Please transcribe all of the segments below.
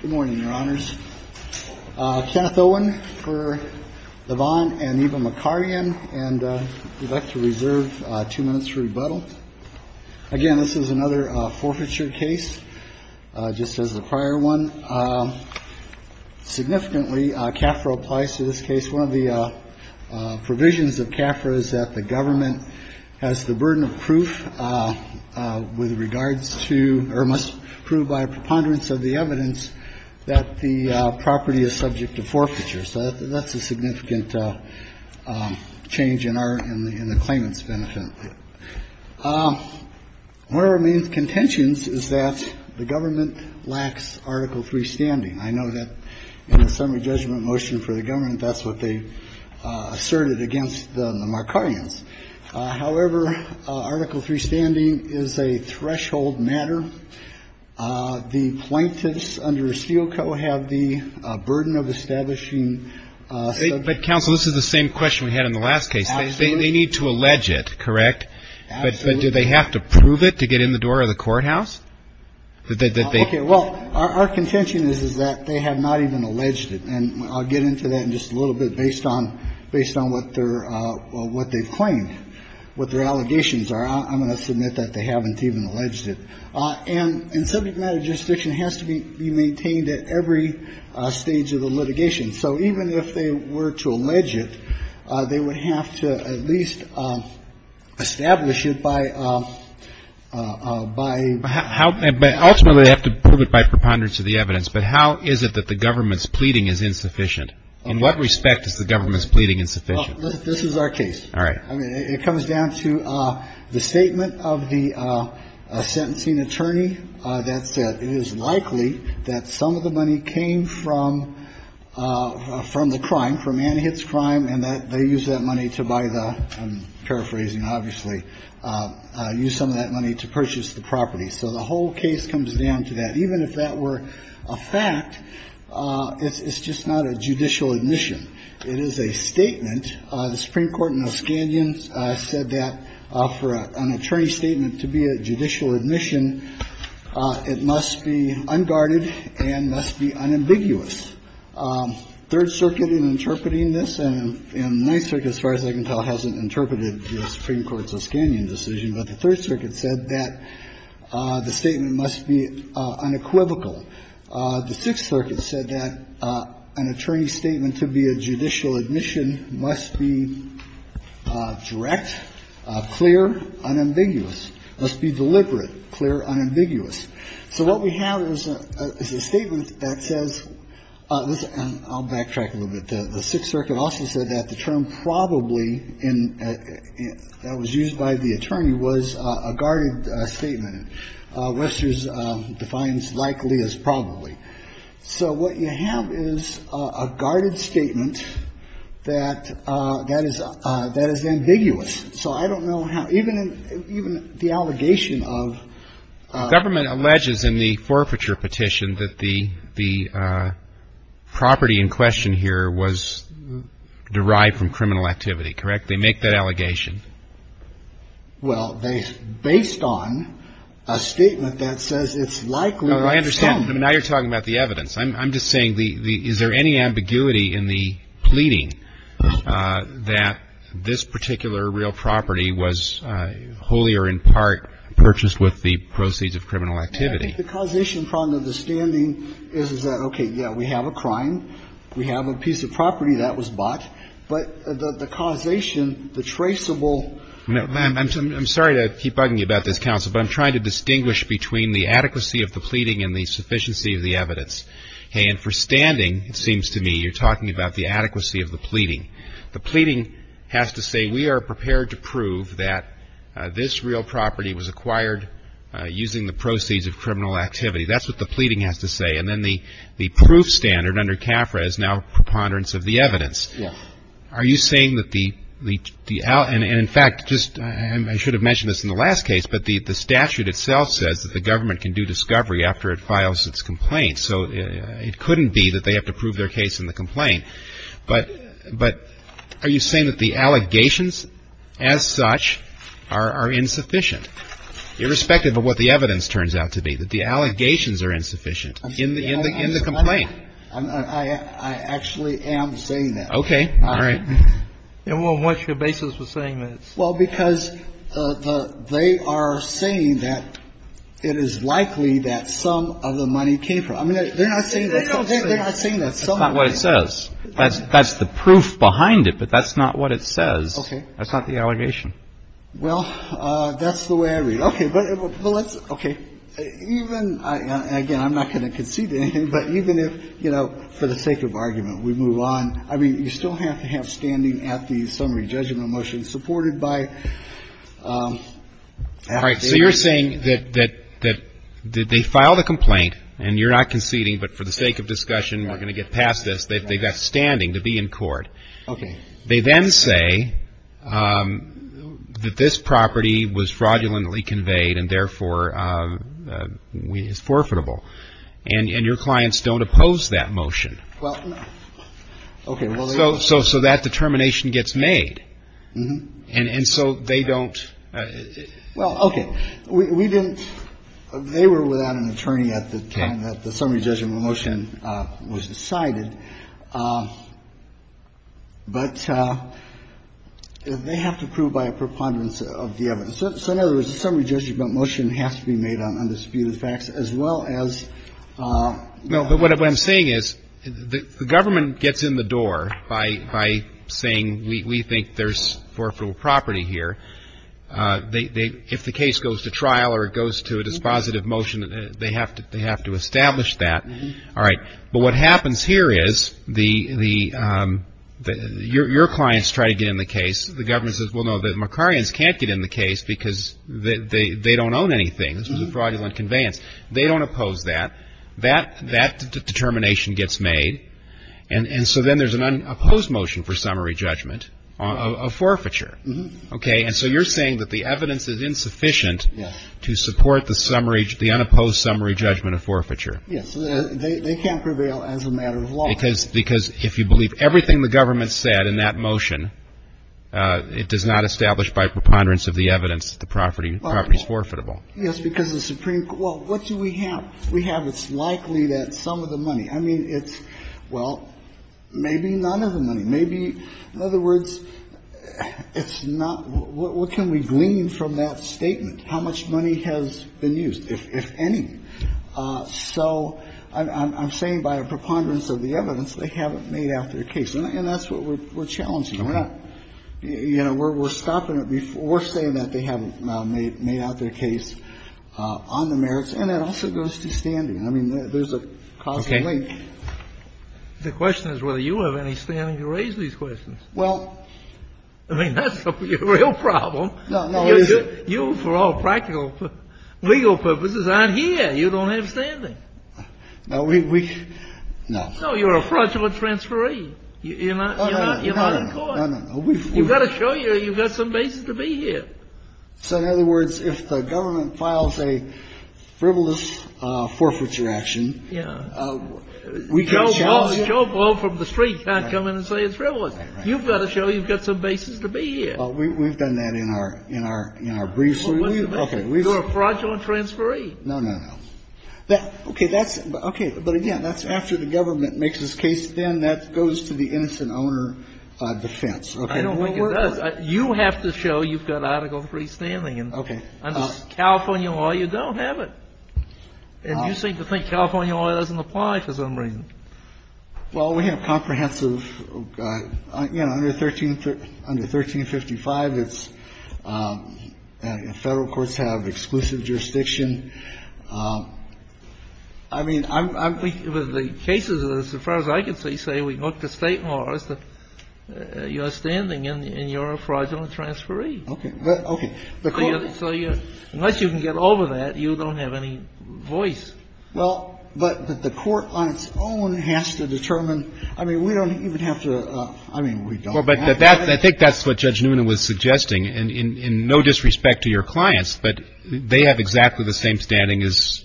Good morning, your honors. Kenneth Owen for Lavon and Eva Makarian, and we'd like to reserve two minutes for rebuttal. Again, this is another forfeiture case, just as the prior one. Significantly, CAFRA applies to this case. One of the provisions of CAFRA is that the government has the burden of proof with regards to or must prove by a preponderance of the evidence that the property is subject to forfeiture. So that's a significant change in our in the claimants benefit. One of our main contentions is that the government lacks Article three standing. I know that in the summary judgment motion for the government, that's what they asserted against the Markarians. However, Article three standing is a threshold matter. The plaintiffs under Steele Co. have the burden of establishing. But counsel, this is the same question we had in the last case. They need to allege it, correct? But do they have to prove it to get in the door of the courthouse? Okay. Well, our contention is, is that they have not even alleged it. And I'll get into that in just a little bit based on, based on what their, what they've claimed, what their allegations are. I'm going to submit that they haven't even alleged it. And subject matter jurisdiction has to be maintained at every stage of the litigation. So even if they were to allege it, they would have to at least establish it by, by. But ultimately they have to prove it by preponderance of the evidence. But how is it that the government's pleading is insufficient? In what respect is the government's pleading insufficient? This is our case. All right. I mean, it comes down to the statement of the sentencing attorney that said it is likely that some of the money came from, from the crime, from Anne Hitt's crime, and that they used that money to buy the, I'm paraphrasing obviously, used some of that money to purchase the property. So the whole case comes down to that. Even if that were a fact, it's just not a judicial admission. It is a statement. The Supreme Court in Oscanion said that for an attorney's statement to be a judicial admission, it must be unguarded and must be unambiguous. Third Circuit, in interpreting this, and my circuit, as far as I can tell, hasn't interpreted the Supreme Court's Oscanion decision, but the Third Circuit said that the statement must be unequivocal. The Sixth Circuit said that an attorney's statement to be a judicial admission must be direct, clear, unambiguous, must be deliberate, clear, unambiguous. So what we have is a statement that says this, and I'll backtrack a little bit. The Sixth Circuit also said that the term probably in, that was used by the attorney, was a guarded statement. And Worcester's defines likely as probably. So what you have is a guarded statement that is ambiguous. So I don't know how, even the allegation of. Government alleges in the forfeiture petition that the property in question here was derived from criminal activity, correct? They make that allegation. Well, based on a statement that says it's likely. I understand. I mean, now you're talking about the evidence. I'm just saying, is there any ambiguity in the pleading that this particular real property was wholly or in part purchased with the proceeds of criminal activity? I think the causation from the understanding is that, okay, yeah, we have a crime. We have a piece of property that was bought. But the causation, the traceable. I'm sorry to keep bugging you about this, counsel, but I'm trying to distinguish between the adequacy of the pleading and the sufficiency of the evidence. And for standing, it seems to me you're talking about the adequacy of the pleading. The pleading has to say we are prepared to prove that this real property was acquired using the proceeds of criminal activity. That's what the pleading has to say. And then the proof standard under CAFRA is now preponderance of the evidence. Yeah. Are you saying that the – and, in fact, just – I should have mentioned this in the last case, but the statute itself says that the government can do discovery after it files its complaint. So it couldn't be that they have to prove their case in the complaint. But are you saying that the allegations as such are insufficient, irrespective of what the evidence turns out to be, that the allegations are insufficient in the complaint? I actually am saying that. Okay. All right. And what's your basis for saying that? Well, because they are saying that it is likely that some of the money came from – I mean, they're not saying that – They don't say that. They're not saying that. That's not what it says. That's the proof behind it, but that's not what it says. Okay. That's not the allegation. Well, that's the way I read it. Okay. But let's – okay. Even – again, I'm not going to concede to anything, but even if, you know, for the sake of argument, we move on. I mean, you still have to have standing at the summary judgment motion supported by – All right. So you're saying that they filed a complaint, and you're not conceding, but for the sake of discussion, we're going to get past this. They've got standing to be in court. Okay. They then say that this property was fraudulently conveyed and, therefore, is forfeitable. And your clients don't oppose that motion. Well, okay. So that determination gets made. And so they don't – Well, okay. We didn't – they were without an attorney at the time that the summary judgment motion was decided. But they have to prove by a preponderance of the evidence. So in other words, the summary judgment motion has to be made on undisputed facts as well as – No, but what I'm saying is the Government gets in the door by saying we think there's forfeitable property here. They – if the case goes to trial or it goes to a dispositive motion, they have to establish that. All right. But what happens here is the – your clients try to get in the case. The Government says, well, no, the Makarians can't get in the case because they don't own anything. This was a fraudulent conveyance. They don't oppose that. That determination gets made. And so then there's an unopposed motion for summary judgment of forfeiture. Okay. And so you're saying that the evidence is insufficient to support the unopposed summary judgment of forfeiture. Yes. They can't prevail as a matter of law. Because if you believe everything the Government said in that motion, it does not establish by preponderance of the evidence that the property is forfeitable. Yes, because the Supreme – well, what do we have? We have it's likely that some of the money – I mean, it's – well, maybe none of the money. Maybe – in other words, it's not – what can we glean from that statement? How much money has been used, if any? So I'm saying by a preponderance of the evidence, they haven't made out their case. And that's what we're challenging. We're not – you know, we're stopping it before saying that they haven't made out their case on the merits. And that also goes to standing. I mean, there's a causal link. Okay. The question is whether you have any standing to raise these questions. Well – I mean, that's the real problem. No, no. You, for all practical legal purposes, aren't here. You don't have standing. No, we – no. No, you're a fraudulent transferee. You're not in court. No, no, no. You've got to show you've got some basis to be here. So, in other words, if the government files a frivolous forfeiture action – Yeah. We can challenge – Joe Ball from the street can't come in and say it's frivolous. You've got to show you've got some basis to be here. Well, we've done that in our briefs. Okay. You're a fraudulent transferee. No, no, no. Okay. That's – okay. But again, that's after the government makes its case. Then that goes to the innocent owner defense. Okay. I don't think it does. You have to show you've got article III standing. Okay. Under California law, you don't have it. And you seem to think California law doesn't apply for some reason. Well, we have comprehensive – you know, under 1355, it's – federal courts have exclusive jurisdiction. I mean, I'm – The cases, as far as I can see, say we look to state laws that you're standing in, and you're a fraudulent transferee. Okay. Okay. So unless you can get over that, you don't have any voice. Well, but the court on its own has to determine – I mean, we don't even have to – I mean, we don't. Well, but that – I think that's what Judge Noonan was suggesting. In no disrespect to your clients, but they have exactly the same standing as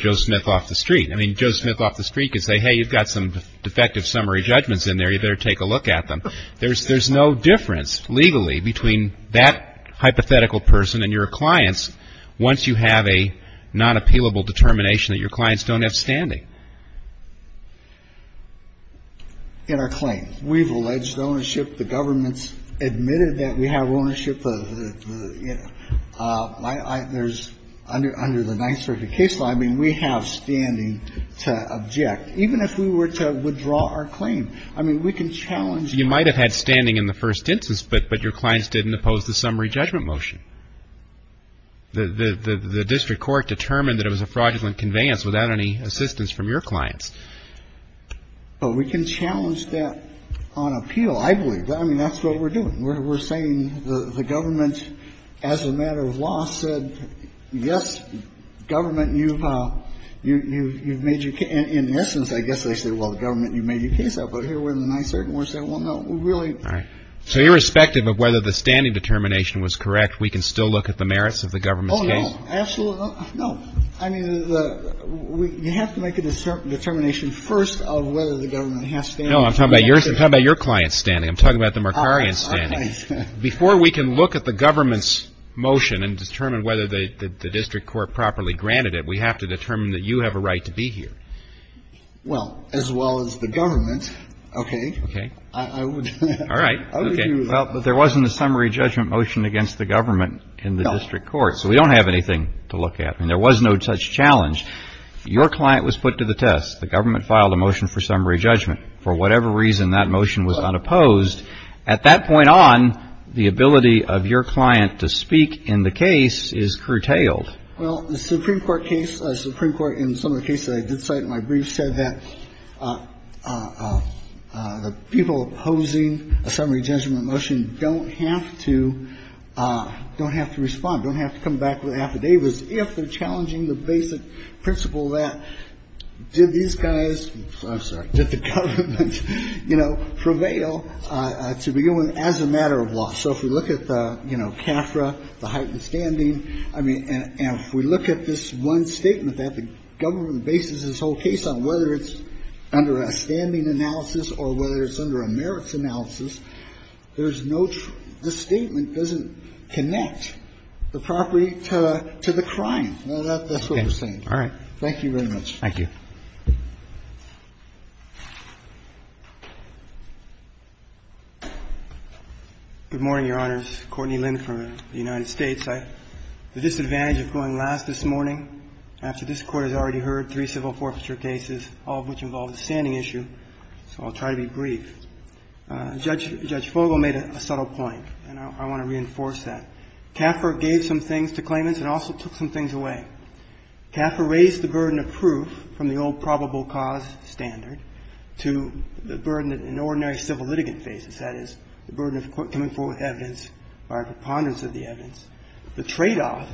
Joe Smith off the street. I mean, Joe Smith off the street could say, hey, you've got some defective summary judgments in there. You better take a look at them. There's no difference legally between that hypothetical person and your clients once you have a non-appealable determination that your clients don't have standing. In our claim. We've alleged ownership. The government's admitted that we have ownership. There's – under the Ninth Circuit case law, I mean, we have standing to object, even if we were to withdraw our claim. I mean, we can challenge that. You might have had standing in the first instance, but your clients didn't oppose the summary judgment motion. The district court determined that it was a fraudulent conveyance without any assistance from your clients. But we can challenge that on appeal, I believe. I mean, that's what we're doing. We're saying the government, as a matter of law, said, yes, government, you've made your – in essence, I guess they said, well, the government, you've made your case up. But here we're in the Ninth Circuit and we're saying, well, no, we really – All right. So irrespective of whether the standing determination was correct, we can still look at the merits of the government's case? Oh, no. Absolutely not. No. I mean, you have to make a determination first of whether the government has standing. No, I'm talking about your client's standing. I'm talking about the Mercarian's standing. Before we can look at the government's motion and determine whether the district court properly granted it, we have to determine that you have a right to be here. Well, as well as the government. Okay. I would – All right. Okay. Well, but there wasn't a summary judgment motion against the government in the district court. No. So we don't have anything to look at. I mean, there was no such challenge. Your client was put to the test. The government filed a motion for summary judgment. For whatever reason, that motion was not opposed. At that point on, the ability of your client to speak in the case is curtailed. Well, the Supreme Court case, the Supreme Court, in some of the cases I did cite in my brief, said that the people opposing a summary judgment motion don't have to – don't have to respond, don't have to come back with affidavits if they're challenging the basic principle that did these guys – I'm sorry – did the government, you know, prevail to begin with as a matter of law. So if we look at the, you know, CAFRA, the heightened standing, I mean, and if we look at this one statement that the government bases this whole case on, whether it's under a standing analysis or whether it's under a merits analysis, there's no – the statement doesn't connect the property to the crime. That's what we're saying. All right. Thank you very much. Thank you. Good morning, Your Honors. Courtney Lynn from the United States. The disadvantage of going last this morning after this Court has already heard three civil forfeiture cases, all of which involve a standing issue, so I'll try to be brief. Judge Fogel made a subtle point, and I want to reinforce that. CAFRA gave some things to claimants and also took some things away. CAFRA raised the burden of proof from the old probable cause standard to the burden that an ordinary civil litigant faces, that is, the burden of coming forward with evidence or a preponderance of the evidence. The tradeoff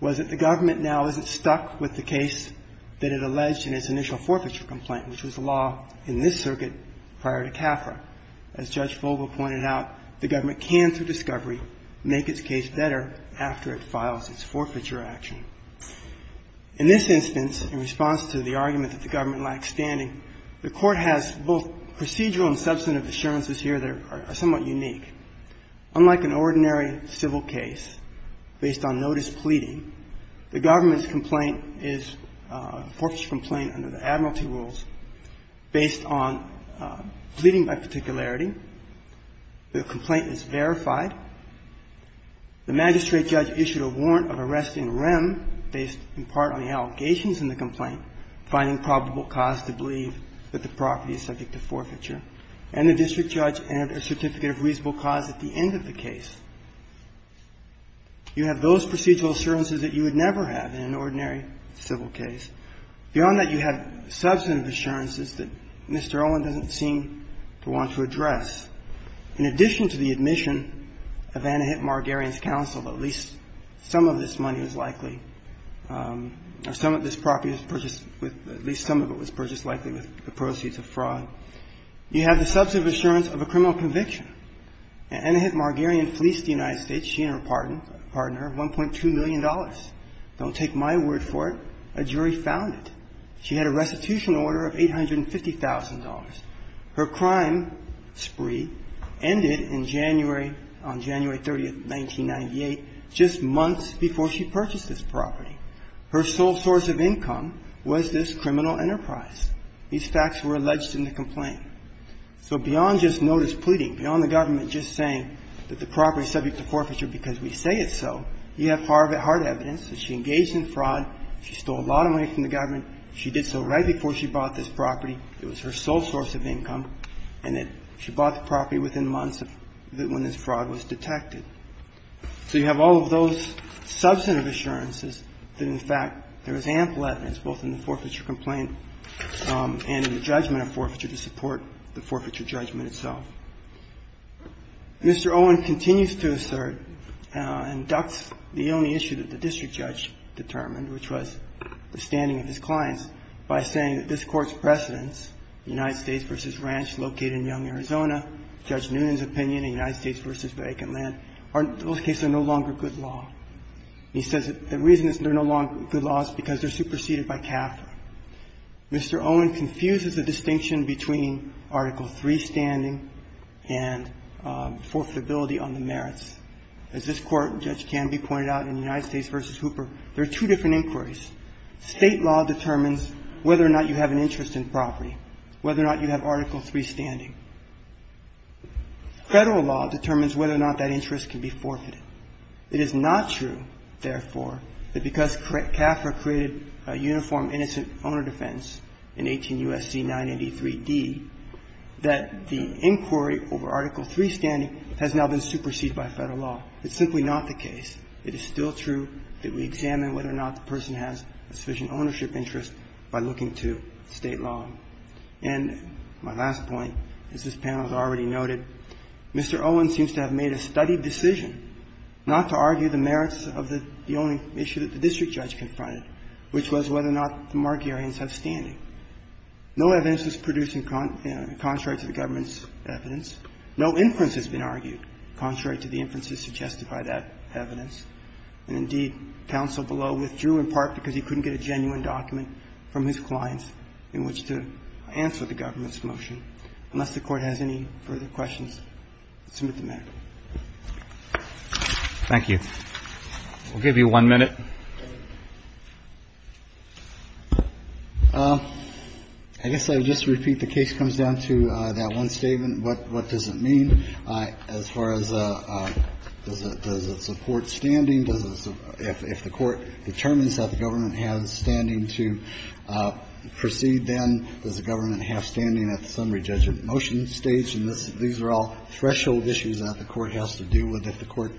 was that the government now isn't stuck with the case that it alleged in its initial forfeiture complaint, which was the law in this circuit prior to CAFRA. As Judge Fogel pointed out, the government can, through discovery, make its case better after it files its forfeiture action. In this instance, in response to the argument that the government lacks standing, the Court has both procedural and substantive assurances here that are somewhat unique. Unlike an ordinary civil case based on notice pleading, the government's complaint is a forfeiture complaint under the admiralty rules based on pleading by particularity. The complaint is verified. The magistrate judge issued a warrant of arrest in rem based in part on the allegations in the complaint, finding probable cause to believe that the property is subject to forfeiture. And the district judge entered a certificate of reasonable cause at the end of the case. You have those procedural assurances that you would never have in an ordinary civil case. Beyond that, you have substantive assurances that Mr. Olin doesn't seem to want to have a criminal conviction. In addition to the admission of Anahit Margarian's counsel that at least some of this money is likely, or some of this property was purchased with at least some of it was purchased likely with the proceeds of fraud, you have the substantive assurance of a criminal conviction. Anahit Margarian fleeced the United States, she and her partner, of $1.2 million. Don't take my word for it. A jury found it. She had a restitution order of $850,000. Her crime spree ended in January, on January 30th, 1998, just months before she purchased this property. Her sole source of income was this criminal enterprise. These facts were alleged in the complaint. So beyond just notice pleading, beyond the government just saying that the property is subject to forfeiture because we say it's so, you have hard evidence that she engaged in fraud, she stole a lot of money from the government, she did so right before she bought this property. It was her sole source of income, and that she bought the property within months of when this fraud was detected. So you have all of those substantive assurances that, in fact, there is ample evidence both in the forfeiture complaint and in the judgment of forfeiture to support the forfeiture judgment itself. Mr. Owen continues to assert and ducts the only issue that the district judge determined, which was the standing of his clients, by saying that this Court's precedents, United States v. Ranch, located in Young, Arizona, Judge Noonan's opinion, and United States v. Vacant Land, in those cases are no longer good law. He says the reason they're no longer good law is because they're superseded by CAFTA. Mr. Owen confuses the distinction between Article III standing and forfeitability on the merits. As this Court, Judge Canby pointed out in United States v. Hooper, there are two different inquiries. State law determines whether or not you have an interest in property, whether or not you have Article III standing. Federal law determines whether or not that interest can be forfeited. It is not true, therefore, that because CAFTA created a uniform innocent owner defense in 18 U.S.C. 983d, that the inquiry over Article III standing has now been superseded by Federal law. It's simply not the case. It is still true that we examine whether or not the person has a sufficient ownership interest by looking to State law. And my last point, as this panel has already noted, Mr. Owen seems to have made a studied decision not to argue the merits of the only issue that the district judge confronted, which was whether or not the Margarians have standing. No evidence was produced in contrast to the government's evidence. No inference has been argued contrary to the inferences suggested by that evidence. And indeed, counsel below withdrew in part because he couldn't get a genuine document from his clients in which to answer the government's motion. Unless the Court has any further questions, I'll submit them now. Roberts. Thank you. We'll give you one minute. I guess I'll just repeat. The case comes down to that one statement. What does it mean as far as does it support standing? If the Court determines that the government has standing to proceed, then does the government have standing at the summary judgment motion stage? And these are all threshold issues that the Court has to deal with. If the Court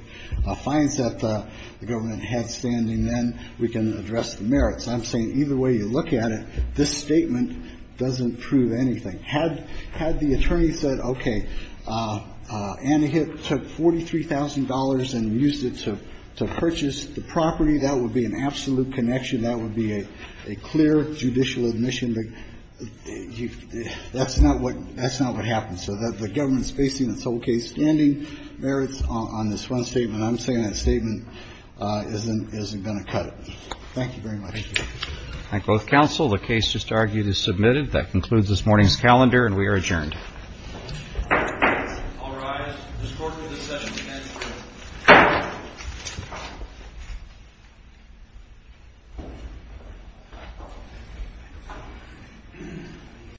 finds that the government has standing, then we can address the merits. I'm saying either way you look at it, this statement doesn't prove anything. Had the attorney said, okay, Anna Hitt took $43,000 and used it to purchase the property, that would be an absolute connection. That would be a clear judicial admission. That's not what happens. So the government's basing its whole case, standing merits, on this one statement. I'm saying that statement isn't going to cut it. Thank you very much. Thank you. Thank both counsel. The case just argued is submitted. That concludes this morning's calendar, and we are adjourned. I'll rise. Ms. Corker, this session is adjourned.